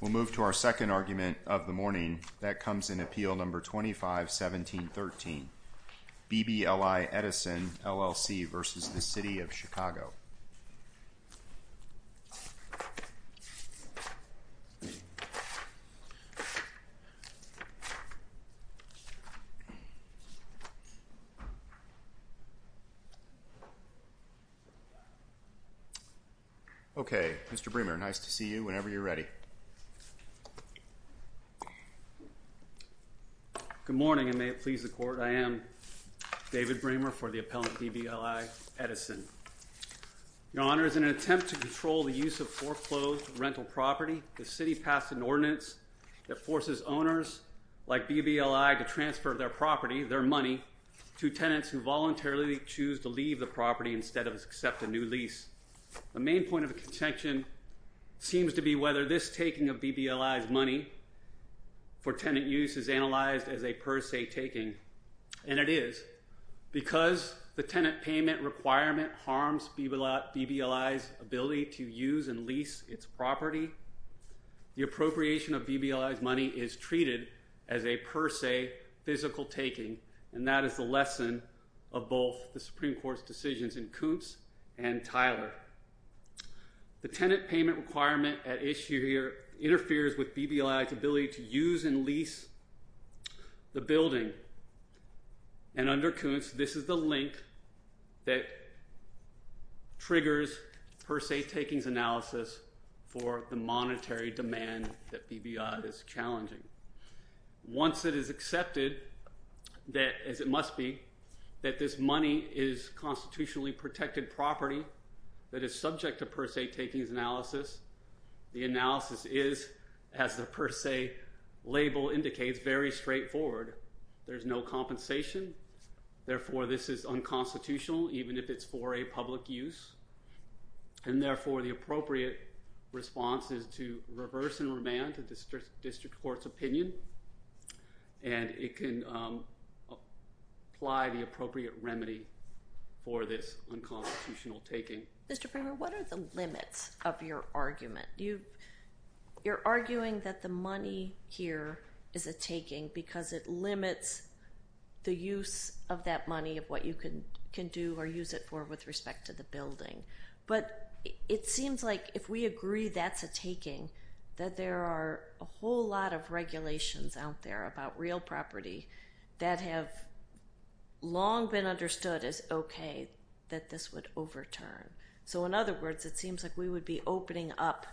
We'll move to our second argument of the morning. That comes in Appeal No. 25-1713. BBLI Edison, LLC v. City of Chicago. Okay, Mr. Bremer, nice to see you whenever you're ready. Good morning, and may it please the Court, I am David Bremer for the appellant BBLI Edison. Your Honor, in an attempt to control the use of foreclosed rental property, the City passed an ordinance that forces owners like BBLI to transfer their property, their money, to tenants who voluntarily choose to leave the property instead of accept a new lease. The main point of contention seems to be whether this taking of BBLI's money for tenant use is analyzed as a per se taking, and it is. Because the tenant payment requirement harms BBLI's ability to use and lease its property, the appropriation of BBLI's money is treated as a per se physical taking, and that is the lesson of both the Supreme Court's decisions in Kuntz and Tyler. The tenant payment requirement at issue here interferes with BBLI's ability to use and lease the building, and under Kuntz, this is the link that triggers per se takings analysis for the monetary demand that BBLI is challenging. Once it is accepted, as it must be, that this money is constitutionally protected property that is subject to per se takings analysis, the analysis is, as the per se label indicates, very straightforward. There's no compensation, therefore this is unconstitutional, even if it's for a public use, and therefore the appropriate response is to reverse and remand the district court's opinion, and it can apply the appropriate remedy for this unconstitutional taking. Mr. Freeman, what are the limits of your argument? You're arguing that the money here is a taking because it limits the use of that money of what you can do or use it for with respect to the building, but it seems like if we agree that's a taking, that there are a whole lot of regulations out there about real property that have long been understood as okay that this would overturn. So in other words, it seems like we would be opening up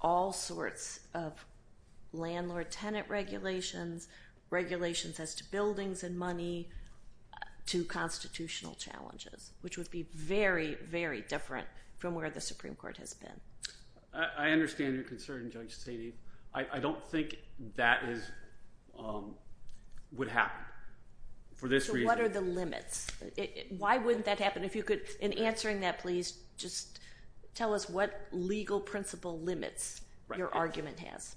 all sorts of landlord-tenant regulations, regulations as to buildings and money, to constitutional challenges, which would be very, very different from where the Supreme Court has been. I understand your concern, Judge Sadie. I don't think that would happen for this reason. What are the limits? Why wouldn't that happen? In answering that, please, just tell us what legal principle limits your argument has.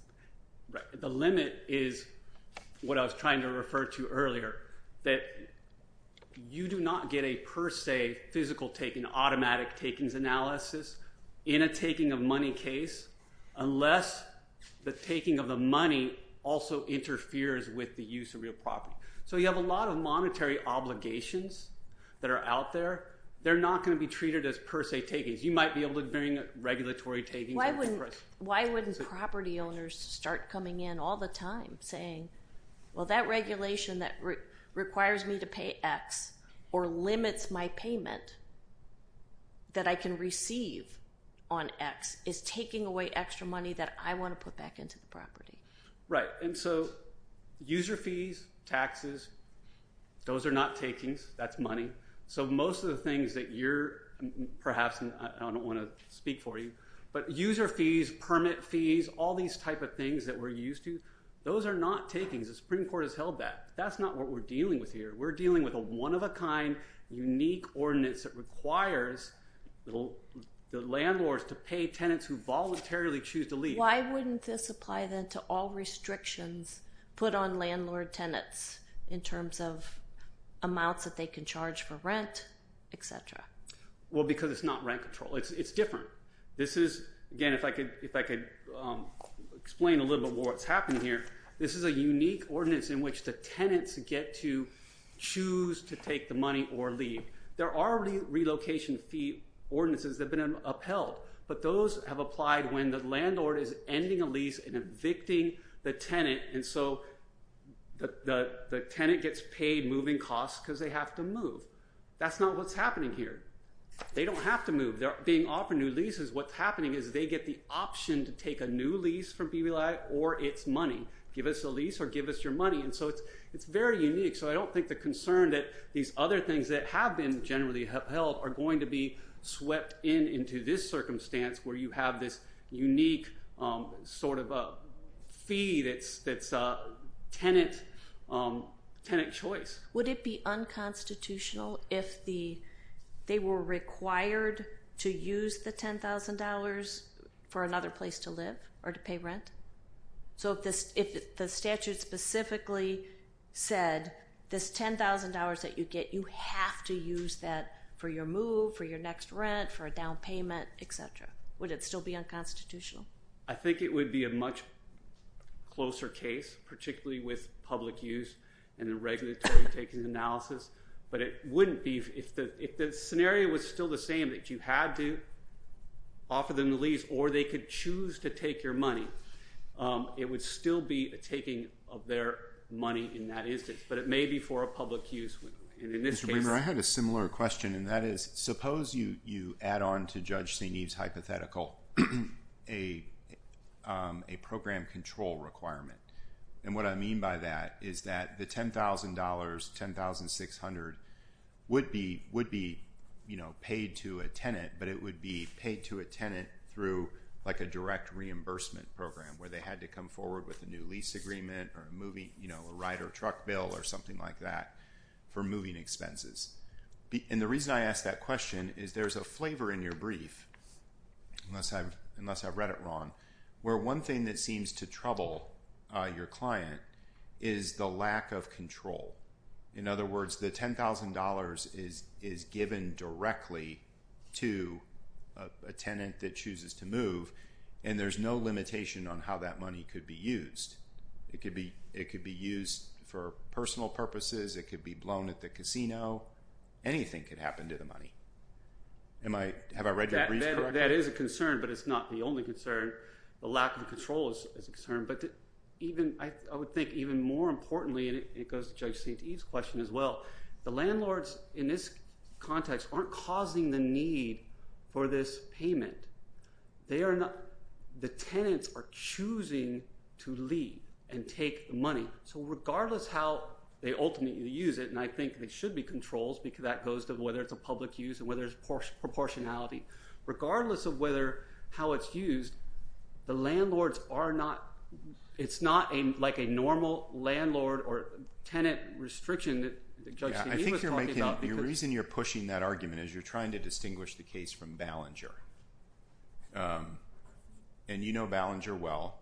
The limit is what I was trying to refer to earlier, that you do not get a per se physical take, an automatic takings analysis in a taking of money case unless the taking of the money also interferes with the use of real property. So you have a lot of monetary obligations that are out there. They're not going to be treated as per se takings. You might be able to bring regulatory takings. Why wouldn't property owners start coming in all the time saying, well, that regulation that requires me to pay X or limits my payment that I can receive on X is taking away extra money that I want to put back into the property? Right. And so user fees, taxes, those are not takings. That's money. So most of the things that you're perhaps, and I don't want to speak for you, but user fees, permit fees, all these type of things that we're used to, those are not takings. The Supreme Court has held that. That's not what we're dealing with here. We're dealing with a one of a kind, unique ordinance that requires the landlords to pay tenants who voluntarily choose to leave. Why wouldn't this apply then to all restrictions put on landlord tenants in terms of amounts that they can charge for rent, et cetera? Well, because it's not rent control. It's different. This is, again, if I could explain a little bit more what's happening here, this is a unique ordinance in which the tenants get to choose to take the money or leave. There are relocation fee ordinances that have been upheld, but those have applied when the landlord is ending a lease and evicting the tenant, and so the tenant gets paid moving costs because they have to move. That's not what's happening here. They don't have to move. They're being offered new leases. What's happening is they get the option to take a new lease from BBLI or its money. Give us a lease or give us your money, and so it's very unique, so I don't think the concern that these other things that have been generally upheld are going to be swept in into this circumstance where you have this unique sort of fee that's tenant choice. Would it be unconstitutional if they were required to use the $10,000 for another place to live or to pay rent? So if the statute specifically said this $10,000 that you get, you have to use that for your move, for your next rent, for a down payment, et cetera, would it still be unconstitutional? I think it would be a much closer case, particularly with public use and the regulatory taking analysis, but it wouldn't be. If the scenario was still the same, that you had to offer them the lease or they could choose to take your money, it would still be a taking of their money in that instance, but it may be for a public use. Mr. Bremer, I had a similar question, and that is, suppose you add on to Judge St. Eve's hypothetical a program control requirement, and what I mean by that is that the $10,000, $10,600 would be paid to a tenant, but it would be paid to a tenant through a direct reimbursement program where they had to come forward with a new lease agreement or a rider truck bill or something like that. And the reason I ask that question is there's a flavor in your brief, unless I've read it wrong, where one thing that seems to trouble your client is the lack of control. In other words, the $10,000 is given directly to a tenant that chooses to move, and there's no limitation on how that money could be used. It could be used for personal purposes. It could be blown at the casino. Anything could happen to the money. Have I read your brief correctly? So regardless of how they ultimately use it, and I think there should be controls because that goes to whether it's a public use and whether it's proportionality, regardless of how it's used, the landlords are not—it's not like a normal landlord or tenant restriction that Judge St. Eve was talking about. The reason you're pushing that argument is you're trying to distinguish the case from Ballinger. And you know Ballinger well.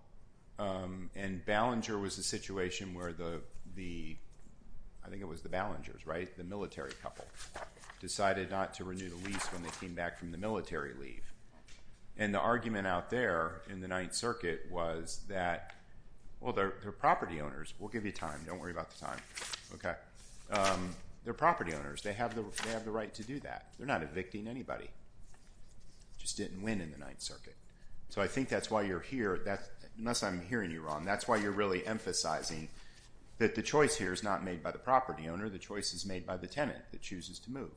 And Ballinger was a situation where the—I think it was the Ballingers, right? The military couple decided not to renew the lease when they came back from the military leave. And the argument out there in the Ninth Circuit was that, well, they're property owners. We'll give you time. Don't worry about the time. They're property owners. They have the right to do that. They're not evicting anybody. Just didn't win in the Ninth Circuit. So I think that's why you're here. Unless I'm hearing you wrong, that's why you're really emphasizing that the choice here is not made by the property owner. The choice is made by the tenant that chooses to move.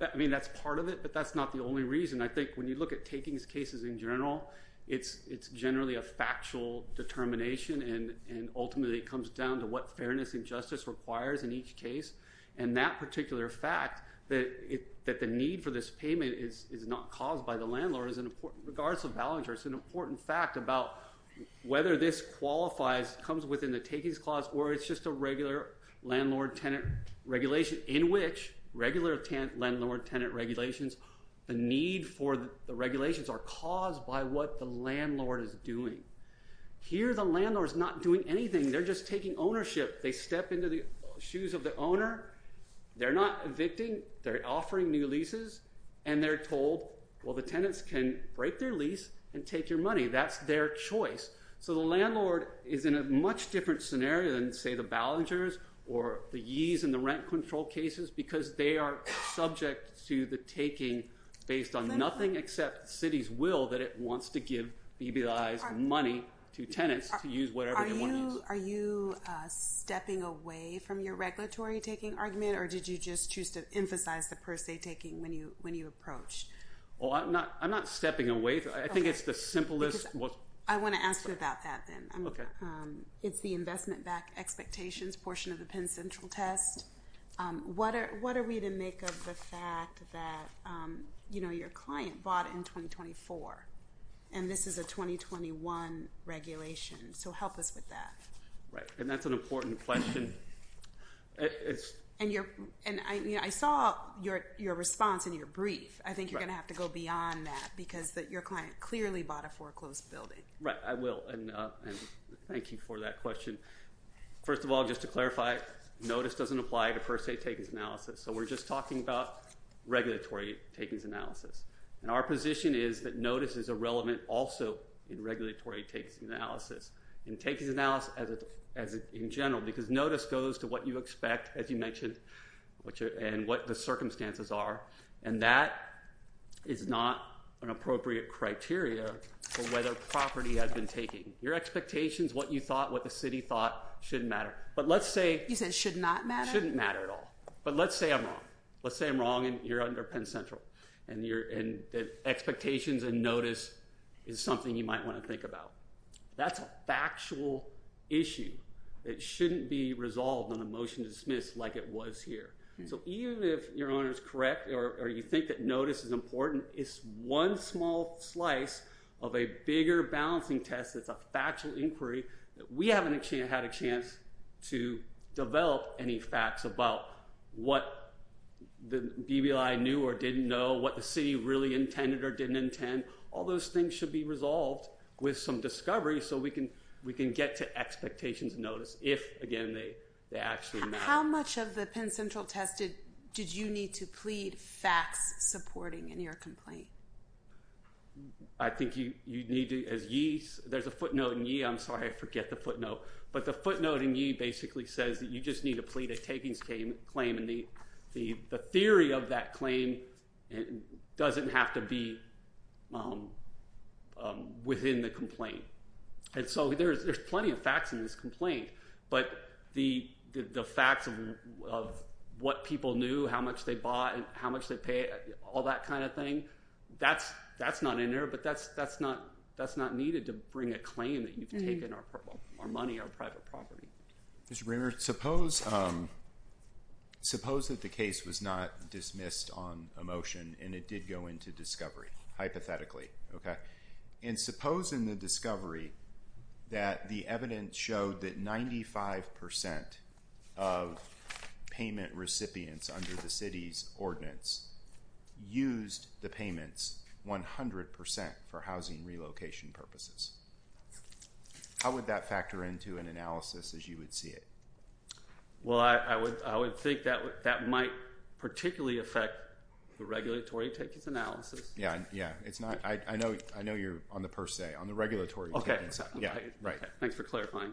I mean, that's part of it, but that's not the only reason. I think when you look at takings cases in general, it's generally a factual determination and ultimately it comes down to what fairness and justice requires in each case. And that particular fact that the need for this payment is not caused by the landlord is an important—regardless of Ballinger, it's an important fact about whether this qualifies—comes within the takings clause or it's just a regular landlord-tenant regulation in which regular landlord-tenant regulations, the need for the regulations are caused by what the landlord is doing. Here the landlord is not doing anything. They're just taking ownership. They step into the shoes of the owner. They're not evicting. They're offering new leases, and they're told, well, the tenants can break their lease and take your money. That's their choice. So the landlord is in a much different scenario than, say, the Ballingers or the Yees in the rent control cases because they are subject to the taking based on nothing except the city's will that it wants to give BBI's money to tenants to use whatever they want to use. Are you stepping away from your regulatory taking argument, or did you just choose to emphasize the per se taking when you approached? I'm not stepping away. I think it's the simplest— I want to ask you about that then. It's the investment-backed expectations portion of the Penn Central test. What are we to make of the fact that your client bought in 2024, and this is a 2021 regulation? So help us with that. Right, and that's an important question. And I saw your response in your brief. I think you're going to have to go beyond that because your client clearly bought a foreclosed building. Right, I will, and thank you for that question. First of all, just to clarify, notice doesn't apply to per se takings analysis, so we're just talking about regulatory takings analysis. And our position is that notice is irrelevant also in regulatory takings analysis and takings analysis in general because notice goes to what you expect, as you mentioned, and what the circumstances are. And that is not an appropriate criteria for whether property has been taken. Your expectations, what you thought, what the city thought, shouldn't matter. But let's say— You said should not matter? Shouldn't matter at all. But let's say I'm wrong. Let's say I'm wrong and you're under Penn Central, and expectations and notice is something you might want to think about. That's a factual issue that shouldn't be resolved on a motion to dismiss like it was here. So even if your owner is correct or you think that notice is important, it's one small slice of a bigger balancing test that's a factual inquiry that we haven't had a chance to develop any facts about what the BBLI knew or didn't know, what the city really intended or didn't intend. All those things should be resolved with some discovery so we can get to expectations and notice if, again, they actually matter. How much of the Penn Central test did you need to plead facts supporting in your complaint? I think you need to—as ye—there's a footnote in ye. I'm sorry, I forget the footnote. But the footnote in ye basically says that you just need to plead a takings claim, and the theory of that claim doesn't have to be within the complaint. And so there's plenty of facts in this complaint, but the facts of what people knew, how much they bought, how much they paid, all that kind of thing, that's not in there, but that's not needed to bring a claim that you've taken our money, our private property. Mr. Bremer, suppose that the case was not dismissed on a motion and it did go into discovery, hypothetically, okay? And suppose in the discovery that the evidence showed that 95% of payment recipients under the city's ordinance used the payments 100% for housing relocation purposes. How would that factor into an analysis as you would see it? Well, I would think that might particularly affect the regulatory takings analysis. Yeah, yeah. It's not—I know you're on the per se. On the regulatory— Okay. Yeah, right. Thanks for clarifying.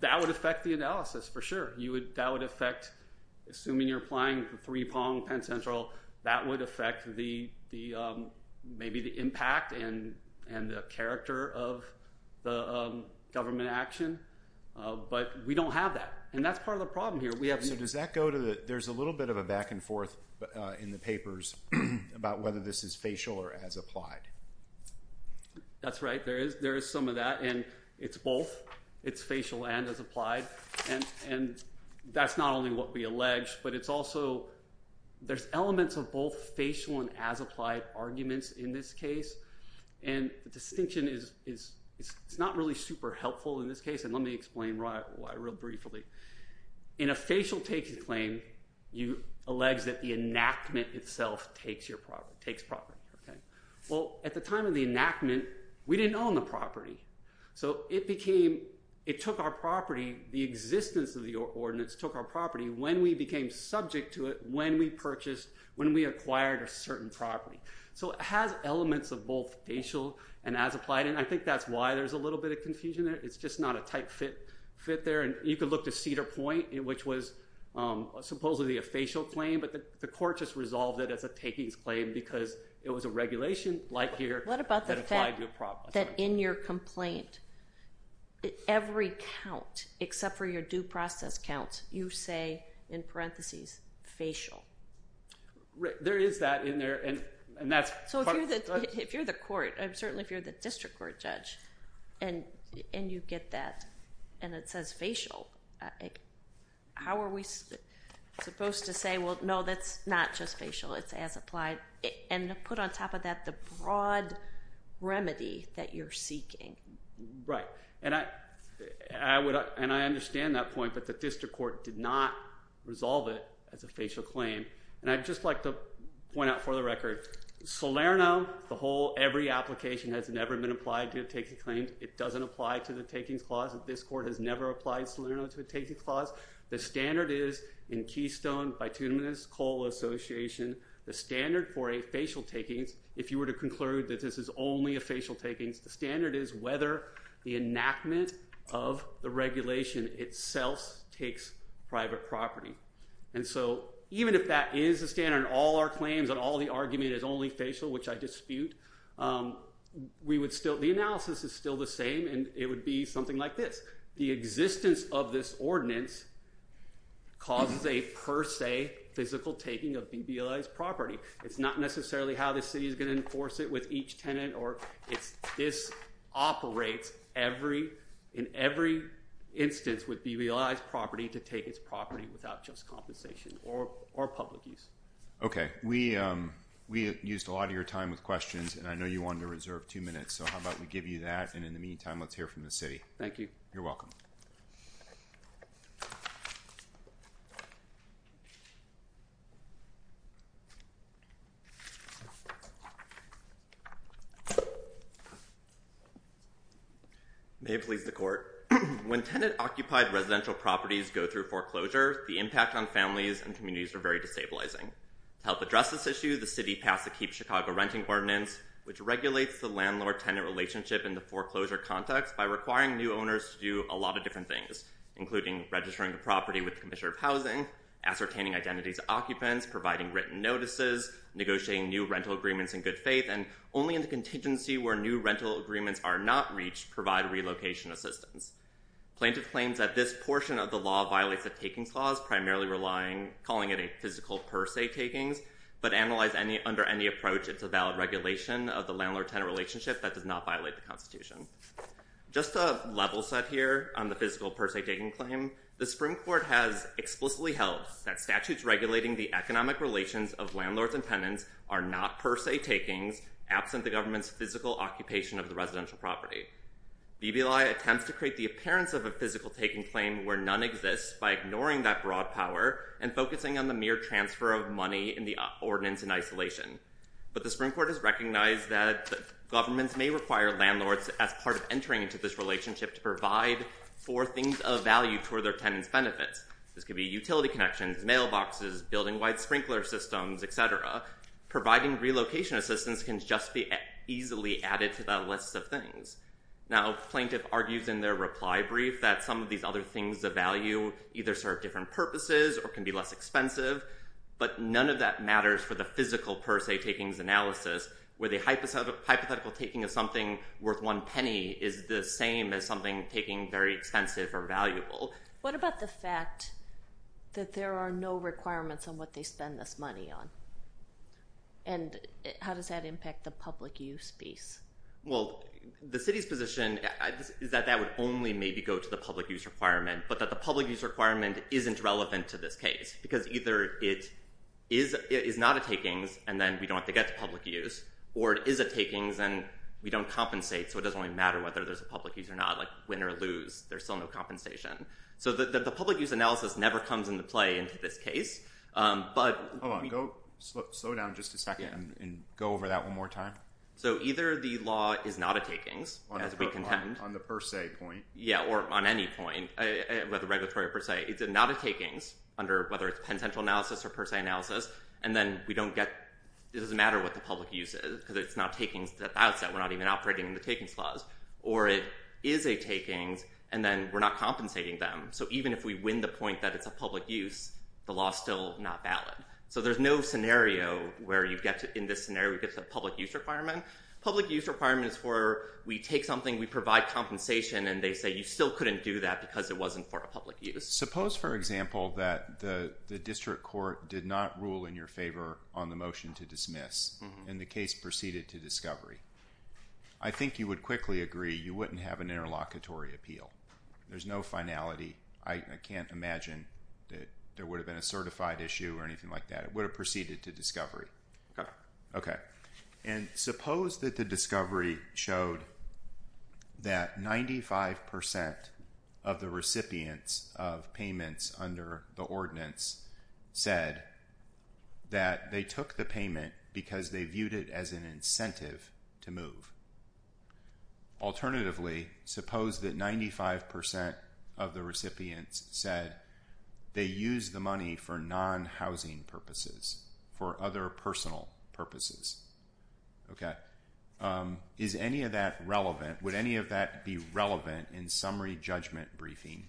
That would affect the analysis for sure. That would affect—assuming you're applying 3 Pong, Penn Central, that would affect maybe the impact and the character of the government action. But we don't have that, and that's part of the problem here. So does that go to the—there's a little bit of a back and forth in the papers about whether this is facial or as applied. That's right. There is some of that, and it's both. It's facial and as applied. And that's not only what we allege, but it's also—there's elements of both facial and as applied arguments in this case. And the distinction is—it's not really super helpful in this case, and let me explain why real briefly. In a facial taking claim, you allege that the enactment itself takes property. Well, at the time of the enactment, we didn't own the property. So it became—it took our property. The existence of the ordinance took our property when we became subject to it, when we purchased, when we acquired a certain property. So it has elements of both facial and as applied, and I think that's why there's a little bit of confusion there. It's just not a tight fit there. You could look to Cedar Point, which was supposedly a facial claim, but the court just resolved it as a takings claim because it was a regulation like here that applied to a property. What about the fact that in your complaint, every count except for your due process counts, you say, in parentheses, facial? There is that in there, and that's part of— If you're the court, certainly if you're the district court judge, and you get that, and it says facial, how are we supposed to say, well, no, that's not just facial. It's as applied, and to put on top of that the broad remedy that you're seeking. Right, and I understand that point, but the district court did not resolve it as a facial claim, and I'd just like to point out for the record, Salerno, the whole, every application has never been applied to a takings claim. It doesn't apply to the takings clause. This court has never applied Salerno to a takings clause. The standard is in Keystone, Bituminous, Cole Association, the standard for a facial takings, if you were to conclude that this is only a facial takings, the standard is whether the enactment of the regulation itself takes private property, and so even if that is the standard in all our claims and all the argument is only facial, which I dispute, we would still—the analysis is still the same, and it would be something like this. The existence of this ordinance causes a per se physical taking of BBLI's property. It's not necessarily how the city is going to enforce it with each tenant, or it's this operates in every instance with BBLI's property to take its property without just compensation or public use. Okay, we used a lot of your time with questions, and I know you wanted to reserve two minutes, so how about we give you that, and in the meantime, let's hear from the city. Thank you. You're welcome. May it please the court. When tenant-occupied residential properties go through foreclosure, the impact on families and communities are very destabilizing. To help address this issue, the city passed the Keep Chicago Renting Ordinance, which regulates the landlord-tenant relationship in the foreclosure context by requiring new owners to do a lot of different things, including registering the property with the Commissioner of Housing, ascertaining identity to occupants, providing written notices, negotiating new rental agreements in good faith, and only in the contingency where new rental agreements are not reached, provide relocation assistance. Plaintiff claims that this portion of the law violates the takings clause, primarily calling it a physical per se takings, but under any approach, it's a valid regulation of the landlord-tenant relationship that does not violate the Constitution. Just a level set here on the physical per se taking claim, the Supreme Court has explicitly held that statutes regulating the economic relations of landlords and tenants are not per se takings absent the government's physical occupation of the residential property. BBLI attempts to create the appearance of a physical taking claim where none exists by ignoring that broad power and focusing on the mere transfer of money in the ordinance in isolation. But the Supreme Court has recognized that governments may require landlords as part of entering into this relationship to provide for things of value for their tenants' benefits. This could be utility connections, mailboxes, building-wide sprinkler systems, etc. Providing relocation assistance can just be easily added to the list of things. Now, plaintiff argues in their reply brief that some of these other things of value either serve different purposes or can be less expensive, but none of that matters for the physical per se takings analysis, where the hypothetical taking of something worth one penny is the same as something taking very expensive or valuable. What about the fact that there are no requirements on what they spend this money on? And how does that impact the public use piece? Well, the city's position is that that would only maybe go to the public use requirement, but that the public use requirement isn't relevant to this case, because either it is not a takings and then we don't have to get to public use, or it is a takings and we don't compensate, so it doesn't really matter whether there's a public use or not, like win or lose, there's still no compensation. So the public use analysis never comes into play into this case. Hold on. Slow down just a second and go over that one more time. So either the law is not a takings, as we contend. On the per se point. Yeah, or on any point, whether regulatory or per se. It's not a takings under whether it's Penn Central analysis or per se analysis, and then we don't get – it doesn't matter what the public use is, because it's not takings at the outset. We're not even operating in the takings clause. Or it is a takings, and then we're not compensating them. So even if we win the point that it's a public use, the law is still not valid. So there's no scenario where you get to – in this scenario, we get to a public use requirement. Public use requirement is where we take something, we provide compensation, and they say you still couldn't do that because it wasn't for a public use. Suppose, for example, that the district court did not rule in your favor on the motion to dismiss and the case proceeded to discovery. I think you would quickly agree you wouldn't have an interlocutory appeal. There's no finality. I can't imagine that there would have been a certified issue or anything like that. It would have proceeded to discovery. Okay. And suppose that the discovery showed that 95% of the recipients of payments under the ordinance said that they took the payment because they viewed it as an incentive to move. Alternatively, suppose that 95% of the recipients said they used the money for non-housing purposes, for other personal purposes. Okay. Is any of that relevant? Would any of that be relevant in summary judgment briefing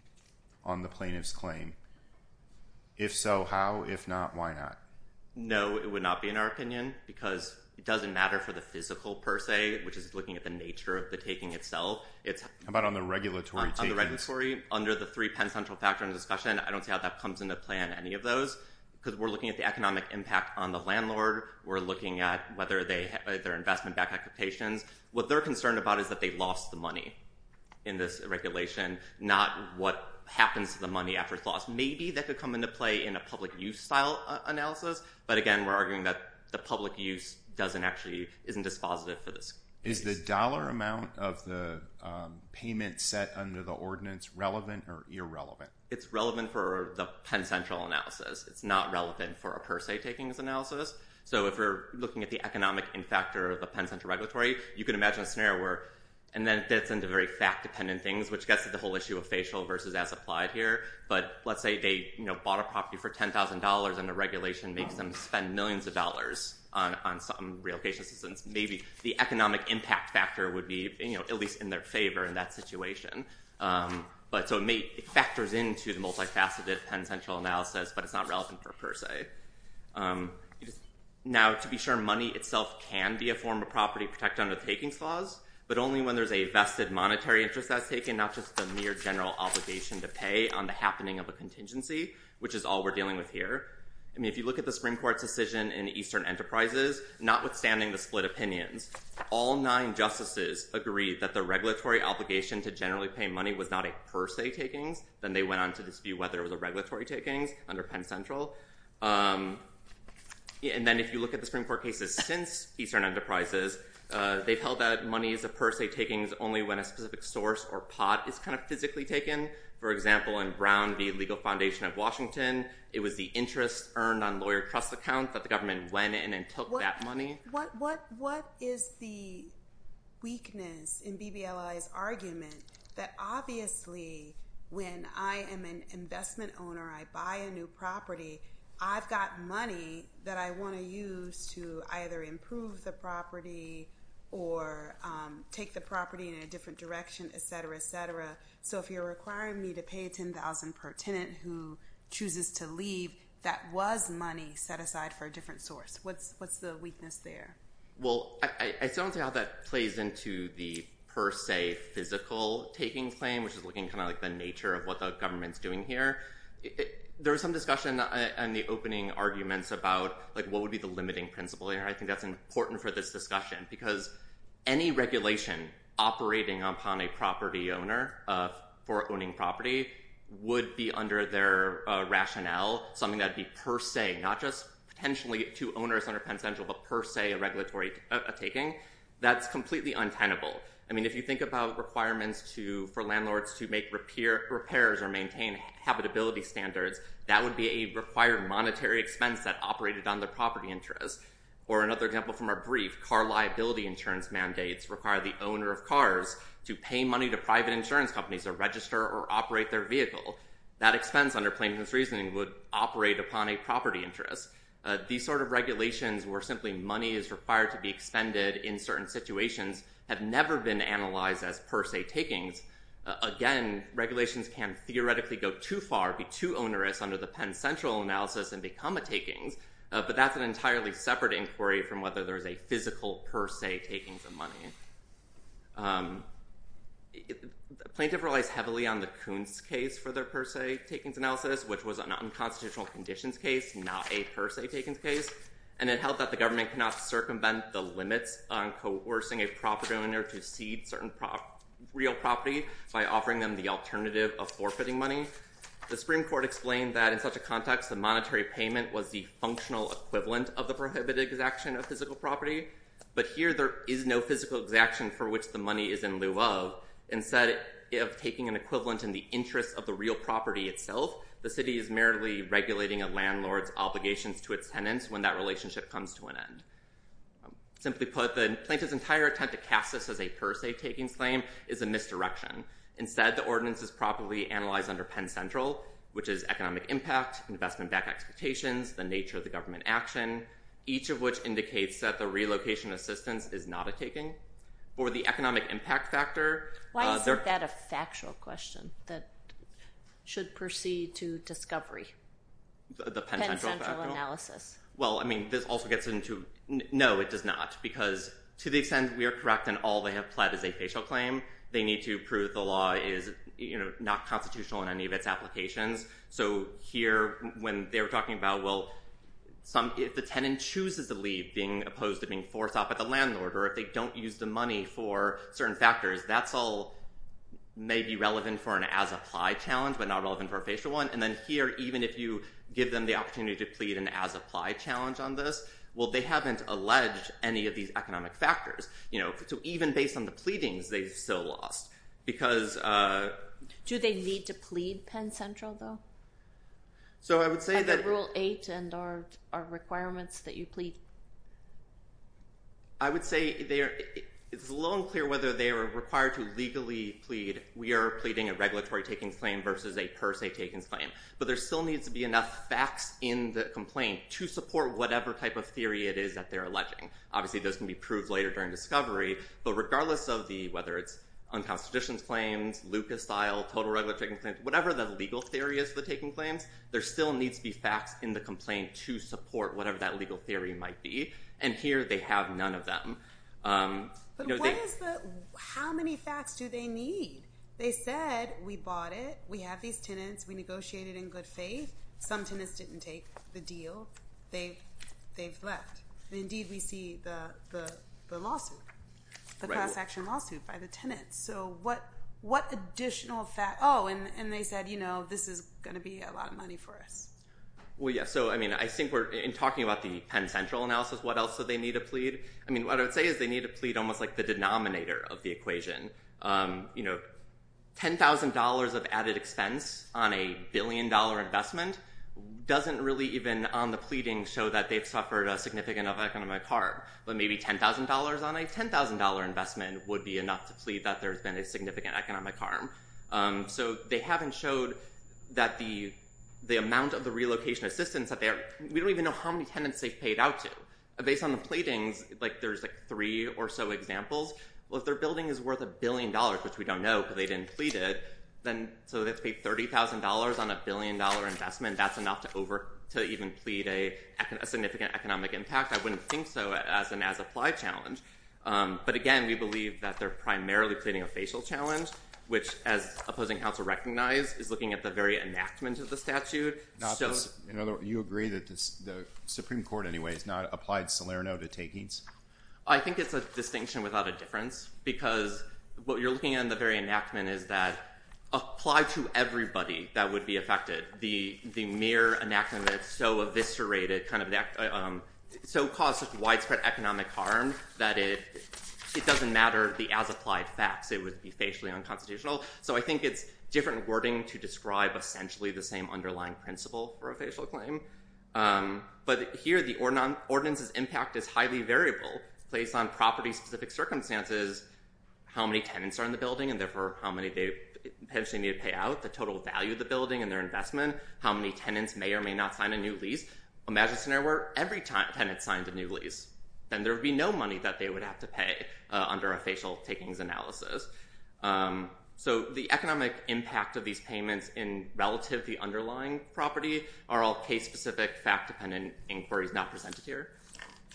on the plaintiff's claim? If so, how? If not, why not? No, it would not be in our opinion because it doesn't matter for the physical per se, which is looking at the nature of the taking itself. How about on the regulatory takings? On the regulatory, under the three pen central factor in the discussion, I don't see how that comes into play on any of those because we're looking at the economic impact on the landlord. We're looking at whether they had their investment back occupations. What they're concerned about is that they lost the money in this regulation, not what happens to the money after it's lost. Maybe that could come into play in a public use style analysis, but again, we're arguing that the public use doesn't actually, isn't dispositive for this. Is the dollar amount of the payment set under the ordinance relevant or irrelevant? It's relevant for the pen central analysis. It's not relevant for a per se takings analysis. So if we're looking at the economic in factor of the pen central regulatory, you can imagine a scenario where, and then it gets into very fact dependent things, which gets to the whole issue of facial versus as applied here, but let's say they bought a property for $10,000 and the regulation makes them spend millions of dollars on some relocation assistance. Maybe the economic impact factor would be at least in their favor in that situation. So it factors into the multifaceted pen central analysis, but it's not relevant for per se. Now to be sure money itself can be a form of property protected under takings laws, but only when there's a vested monetary interest that's taken, not just the mere general obligation to pay on the happening of a contingency, which is all we're dealing with here. I mean, if you look at the Supreme Court's decision in Eastern Enterprises, notwithstanding the split opinions, all nine justices agreed that the regulatory obligation to generally pay money was not a per se takings. Then they went on to dispute whether it was a regulatory takings under pen central. And then if you look at the Supreme Court cases since Eastern Enterprises, they've held that money is a per se takings only when a specific source or pot is kind of physically taken. For example, in Brown v. Legal Foundation of Washington, it was the interest earned on lawyer trust accounts that the government went in and took that money. What is the weakness in BBLI's argument that obviously when I am an investment owner, I buy a new property, I've got money that I want to use to either improve the property or take the property in a different direction, et cetera, et cetera. So if you're requiring me to pay $10,000 per tenant who chooses to leave, that was money set aside for a different source. What's the weakness there? Well, I still don't see how that plays into the per se physical taking claim, which is looking kind of like the nature of what the government is doing here. There was some discussion in the opening arguments about what would be the limiting principle here. I think that's important for this discussion because any regulation operating upon a property owner for owning property would be under their rationale, something that would be per se, not just potentially to owners under Penn Central, but per se a regulatory taking. That's completely untenable. I mean, if you think about requirements for landlords to make repairs or maintain habitability standards, that would be a required monetary expense that operated on their property interest. Or another example from our brief, car liability insurance mandates require the owner of cars to pay money to private insurance companies to register or operate their vehicle. That expense, under plaintiff's reasoning, would operate upon a property interest. These sort of regulations where simply money is required to be expended in certain situations have never been analyzed as per se takings. Again, regulations can theoretically go too far, be too onerous under the Penn Central analysis and become a takings, but that's an entirely separate inquiry from whether there's a physical per se takings of money. Plaintiff relies heavily on the Coons case for their per se takings analysis, which was an unconstitutional conditions case, not a per se takings case. And it held that the government cannot circumvent the limits on coercing a property owner to cede certain real property by offering them the alternative of forfeiting money. The Supreme Court explained that in such a context, the monetary payment was the functional equivalent of the prohibited exaction of physical property. But here there is no physical exaction for which the money is in lieu of. Instead of taking an equivalent in the interest of the real property itself, the city is merely regulating a landlord's obligations to its tenants when that relationship comes to an end. Simply put, the plaintiff's entire attempt to cast this as a per se takings claim is a misdirection. Instead, the ordinance is properly analyzed under Penn Central, which is economic impact, investment-backed expectations, the nature of the government action, each of which indicates that the relocation assistance is not a taking, or the economic impact factor. Why is that a factual question that should proceed to discovery, the Penn Central analysis? Well, I mean, this also gets into... No, it does not, because to the extent we are correct in all they have pled as a facial claim, they need to prove the law is not constitutional in any of its applications. So here, when they're talking about, well, if the tenant chooses to leave, being opposed to being forced off by the landlord, or if they don't use the money for certain factors, that's all maybe relevant for an as-applied challenge, but not relevant for a facial one. And then here, even if you give them the opportunity to plead an as-applied challenge on this, well, they haven't alleged any of these economic factors. So even based on the pleadings, they've still lost, because... Do they need to plead Penn Central, though? So I would say that... Is it Rule 8 and our requirements that you plead? I would say it's a little unclear whether they are required to legally plead. We are pleading a regulatory takings claim versus a per se takings claim. But there still needs to be enough facts in the complaint to support whatever type of theory it is that they're alleging. Obviously, those can be proved later during discovery, but regardless of the... whether it's unconstitutional claims, Luca-style, total regulatory claims, whatever the legal theory is for taking claims, there still needs to be facts in the complaint to support whatever that legal theory might be. And here, they have none of them. But what is the... How many facts do they need? They said, we bought it, we have these tenants, we negotiated in good faith. Some tenants didn't take the deal. They've left. And indeed, we see the lawsuit, the cross-action lawsuit by the tenants. So what additional fact... Oh, and they said, you know, this is going to be a lot of money for us. Well, yeah. So, I mean, I think we're... In talking about the Penn Central analysis, what else do they need to plead? I mean, what I would say is they need to plead almost like the denominator of the equation. You know, $10,000 of added expense on a billion-dollar investment doesn't really even, on the pleading, show that they've suffered a significant economic harm. But maybe $10,000 on a $10,000 investment would be enough to plead that there's been a significant economic harm. So they haven't showed that the amount of the relocation assistance that they are... We don't even know how many tenants they've paid out to. Based on the pleadings, like, there's, like, three or so examples. Well, if their building is worth a billion dollars, which we don't know because they didn't plead it, then so they've paid $30,000 on a billion-dollar investment, that's enough to even plead a significant economic impact. I wouldn't think so as an as-applied challenge. But again, we believe that they're primarily pleading a facial challenge, which, as opposing counsel recognized, is looking at the very enactment of the statute. So... In other words, you agree that the Supreme Court, anyway, has not applied Salerno to takings? I think it's a distinction without a difference, because what you're looking at in the very enactment is that apply to everybody that would be affected. The mere enactment that's so eviscerated, kind of that... so causes widespread economic harm that it doesn't matter the as-applied facts. It would be facially unconstitutional. So I think it's different wording to describe, essentially, the same underlying principle for a facial claim. But here, the ordinance's impact is highly variable. Based on property-specific circumstances, how many tenants are in the building, and therefore how many they potentially need to pay out, the total value of the building and their investment, how many tenants may or may not sign a new lease. Imagine a scenario where every tenant signed a new lease. Then there would be no money that they would have to pay under a facial takings analysis. So the economic impact of these payments in relative the underlying property are all case-specific, fact-dependent inquiries not presented here.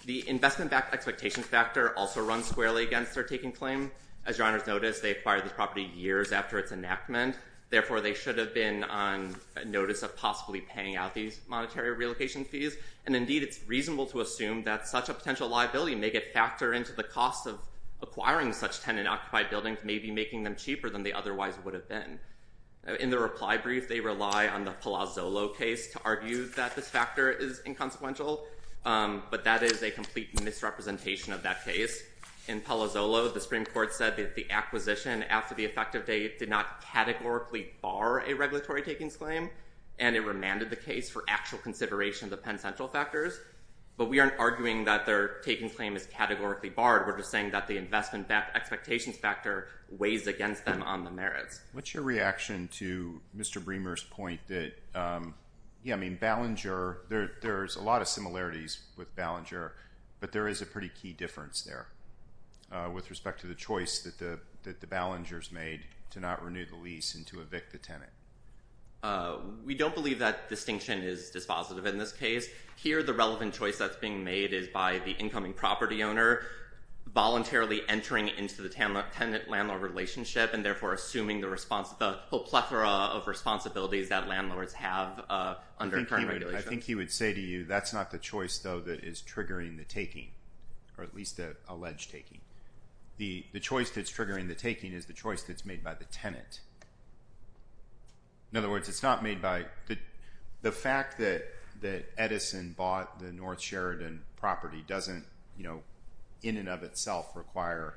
The investment-backed expectation factor also runs squarely against their taking claim. As your Honor's noticed, they acquired this property years after its enactment. Therefore, they should have been on notice of possibly paying out these monetary relocation fees. And indeed, it's reasonable to assume that such a potential liability may get factored into the cost of acquiring such tenant-occupied buildings, maybe making them cheaper than they otherwise would have been. In the reply brief, they rely on the Palazzolo case to argue that this factor is inconsequential. But that is a complete misrepresentation of that case. In Palazzolo, the Supreme Court said that the acquisition after the effective date did not categorically bar a regulatory takings claim, and it remanded the case for actual consideration of the Penn Central factors. But we aren't arguing that their taking claim is categorically barred. We're just saying that the investment-backed expectation factor weighs against them on the merits. What's your reaction to Mr. Bremer's point that, yeah, I mean, Ballinger, there's a lot of similarities with Ballinger, but there is a pretty key difference there with respect to the choice that the Ballingers made to not renew the lease and to evict the tenant. We don't believe that distinction is dispositive in this case. Here, the relevant choice that's being made is by the incoming property owner voluntarily entering into the tenant-landlord relationship and therefore assuming the whole plethora of responsibilities that landlords have under current regulation. I think he would say to you, that's not the choice, though, that is triggering the taking, or at least the alleged taking. The choice that's triggering the taking is the choice that's made by the tenant. In other words, it's not made by... The fact that Edison bought the North Sheridan property doesn't, in and of itself, require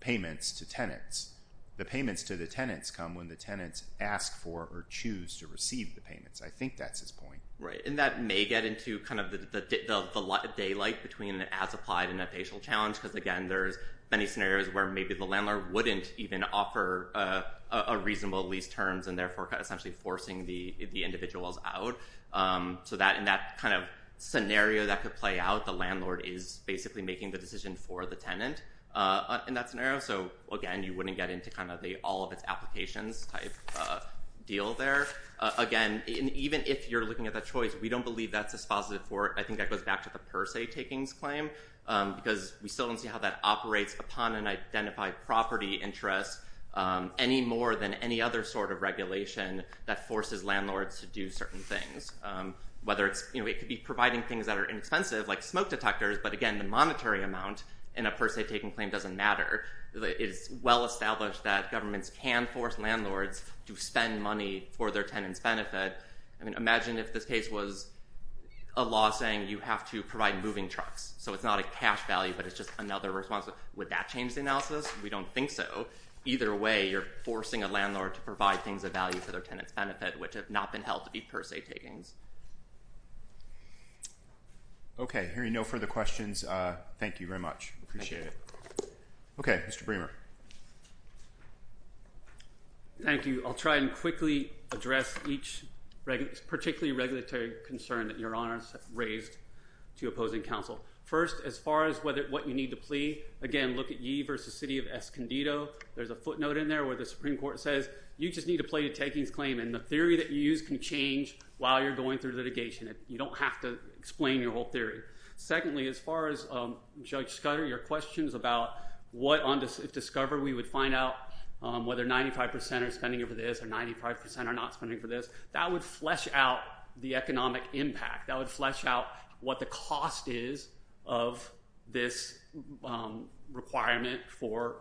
payments to tenants. The payments to the tenants come when the tenants ask for or choose to receive the payments. I think that's his point. Right, and that may get into kind of the daylight between an as-applied and a facial challenge, because, again, there's many scenarios where maybe the landlord wouldn't even offer a reasonable lease terms and therefore essentially forcing the individuals out. So in that kind of scenario that could play out, the landlord is basically making the decision for the tenant in that scenario. So, again, you wouldn't get into kind of the all-of-its-applications type deal there. Again, even if you're looking at that choice, we don't believe that's as positive for it. I think that goes back to the per se takings claim, because we still don't see how that operates upon an identified property interest any more than any other sort of regulation that forces landlords to do certain things. Whether it's, you know, it could be providing things that are inexpensive, like smoke detectors, but, again, the monetary amount in a per se taking claim doesn't matter. It's well established that governments can force landlords to spend money for their tenants' benefit. I mean, imagine if this case was a law saying you have to provide moving trucks. So it's not a cash value, but it's just another response. Would that change the analysis? We don't think so. Either way, you're forcing a landlord to provide things of value for their tenants' benefit, which have not been held to be per se takings. Okay. Hearing no further questions, thank you very much. Appreciate it. Okay. Mr. Bremer. Thank you. I'll try and quickly address each particularly regulatory concern that Your Honors raised to opposing counsel. First, as far as what you need to plea, again, look at Yee v. City of Escondido. There's a footnote in there where the Supreme Court says, you just need to plead a takings claim, and the theory that you use can change while you're going through litigation. You don't have to explain your whole theory. Secondly, as far as Judge Scudder, your questions about what, if discovered, we would find out whether 95% are spending it for this or 95% are not spending it for this, that would flesh out the economic impact. That would flesh out what the cost is of this requirement for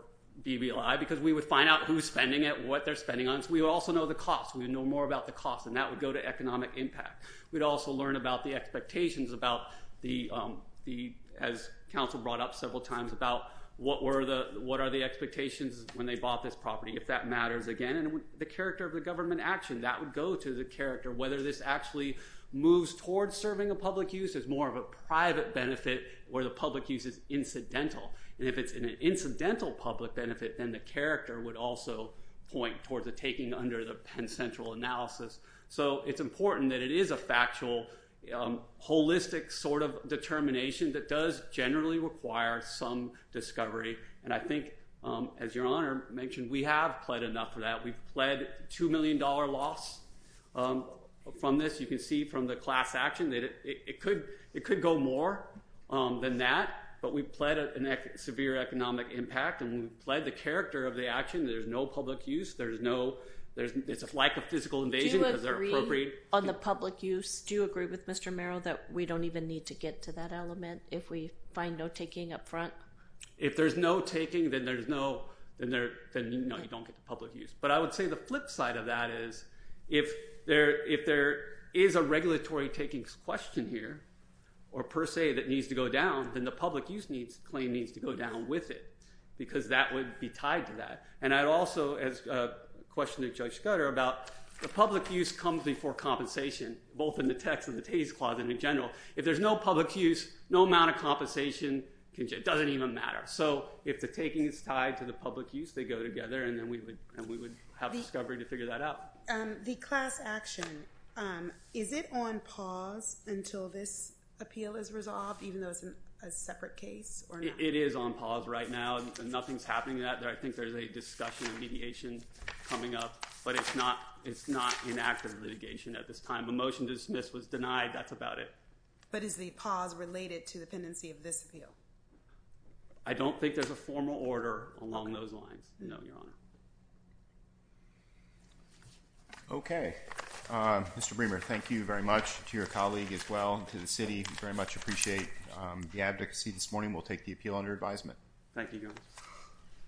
BBLI, because we would find out who's spending it, what they're spending on it. We would also know the cost. We would know more about the cost, and that would go to economic impact. We'd also learn about the expectations about the, as counsel brought up several times, about what are the expectations when they bought this property, if that matters. Again, the character of the government action, that would go to the character, whether this actually moves towards serving a public use as more of a private benefit or the public use is incidental. And if it's an incidental public benefit, then the character would also point towards a taking under the Penn Central analysis. So it's important that it is a factual, holistic sort of determination that does generally require some discovery. And I think, as Your Honor mentioned, we have pled enough for that. We've pled $2 million loss. From this, you can see from the class action that it could go more than that, but we've pled a severe economic impact, and we've pled the character of the action. There's no public use. There's no, it's like a physical invasion because they're appropriate. Do you agree on the public use? Do you agree with Mr. Merrill that we don't even need to get to that element if we find no taking up front? If there's no taking, then there's no, then you don't get the public use. But I would say the flip side of that is, if there is a regulatory takings question here, or per se, that needs to go down, then the public use claim needs to go down with it because that would be tied to that. And I'd also, as a question to Judge Scudder about, the public use comes before compensation, both in the text of the Tate's Clause and in general. If there's no public use, no amount of compensation doesn't even matter. So if the taking is tied to the public use, they go together, and then we would have discovery to figure that out. The class action, is it on pause until this appeal is resolved, even though it's a separate case, or not? It is on pause right now. Nothing's happening to that. I think there's a discussion of mediation coming up, but it's not an active litigation at this time. A motion to dismiss was denied. That's about it. But is the pause related to the pendency of this appeal? I don't think there's a formal order along those lines. No, Your Honor. Okay. Mr. Bremer, thank you very much to your colleague as well, and to the city. We very much appreciate the advocacy this morning. We'll take the appeal under advisement. Thank you, Your Honor.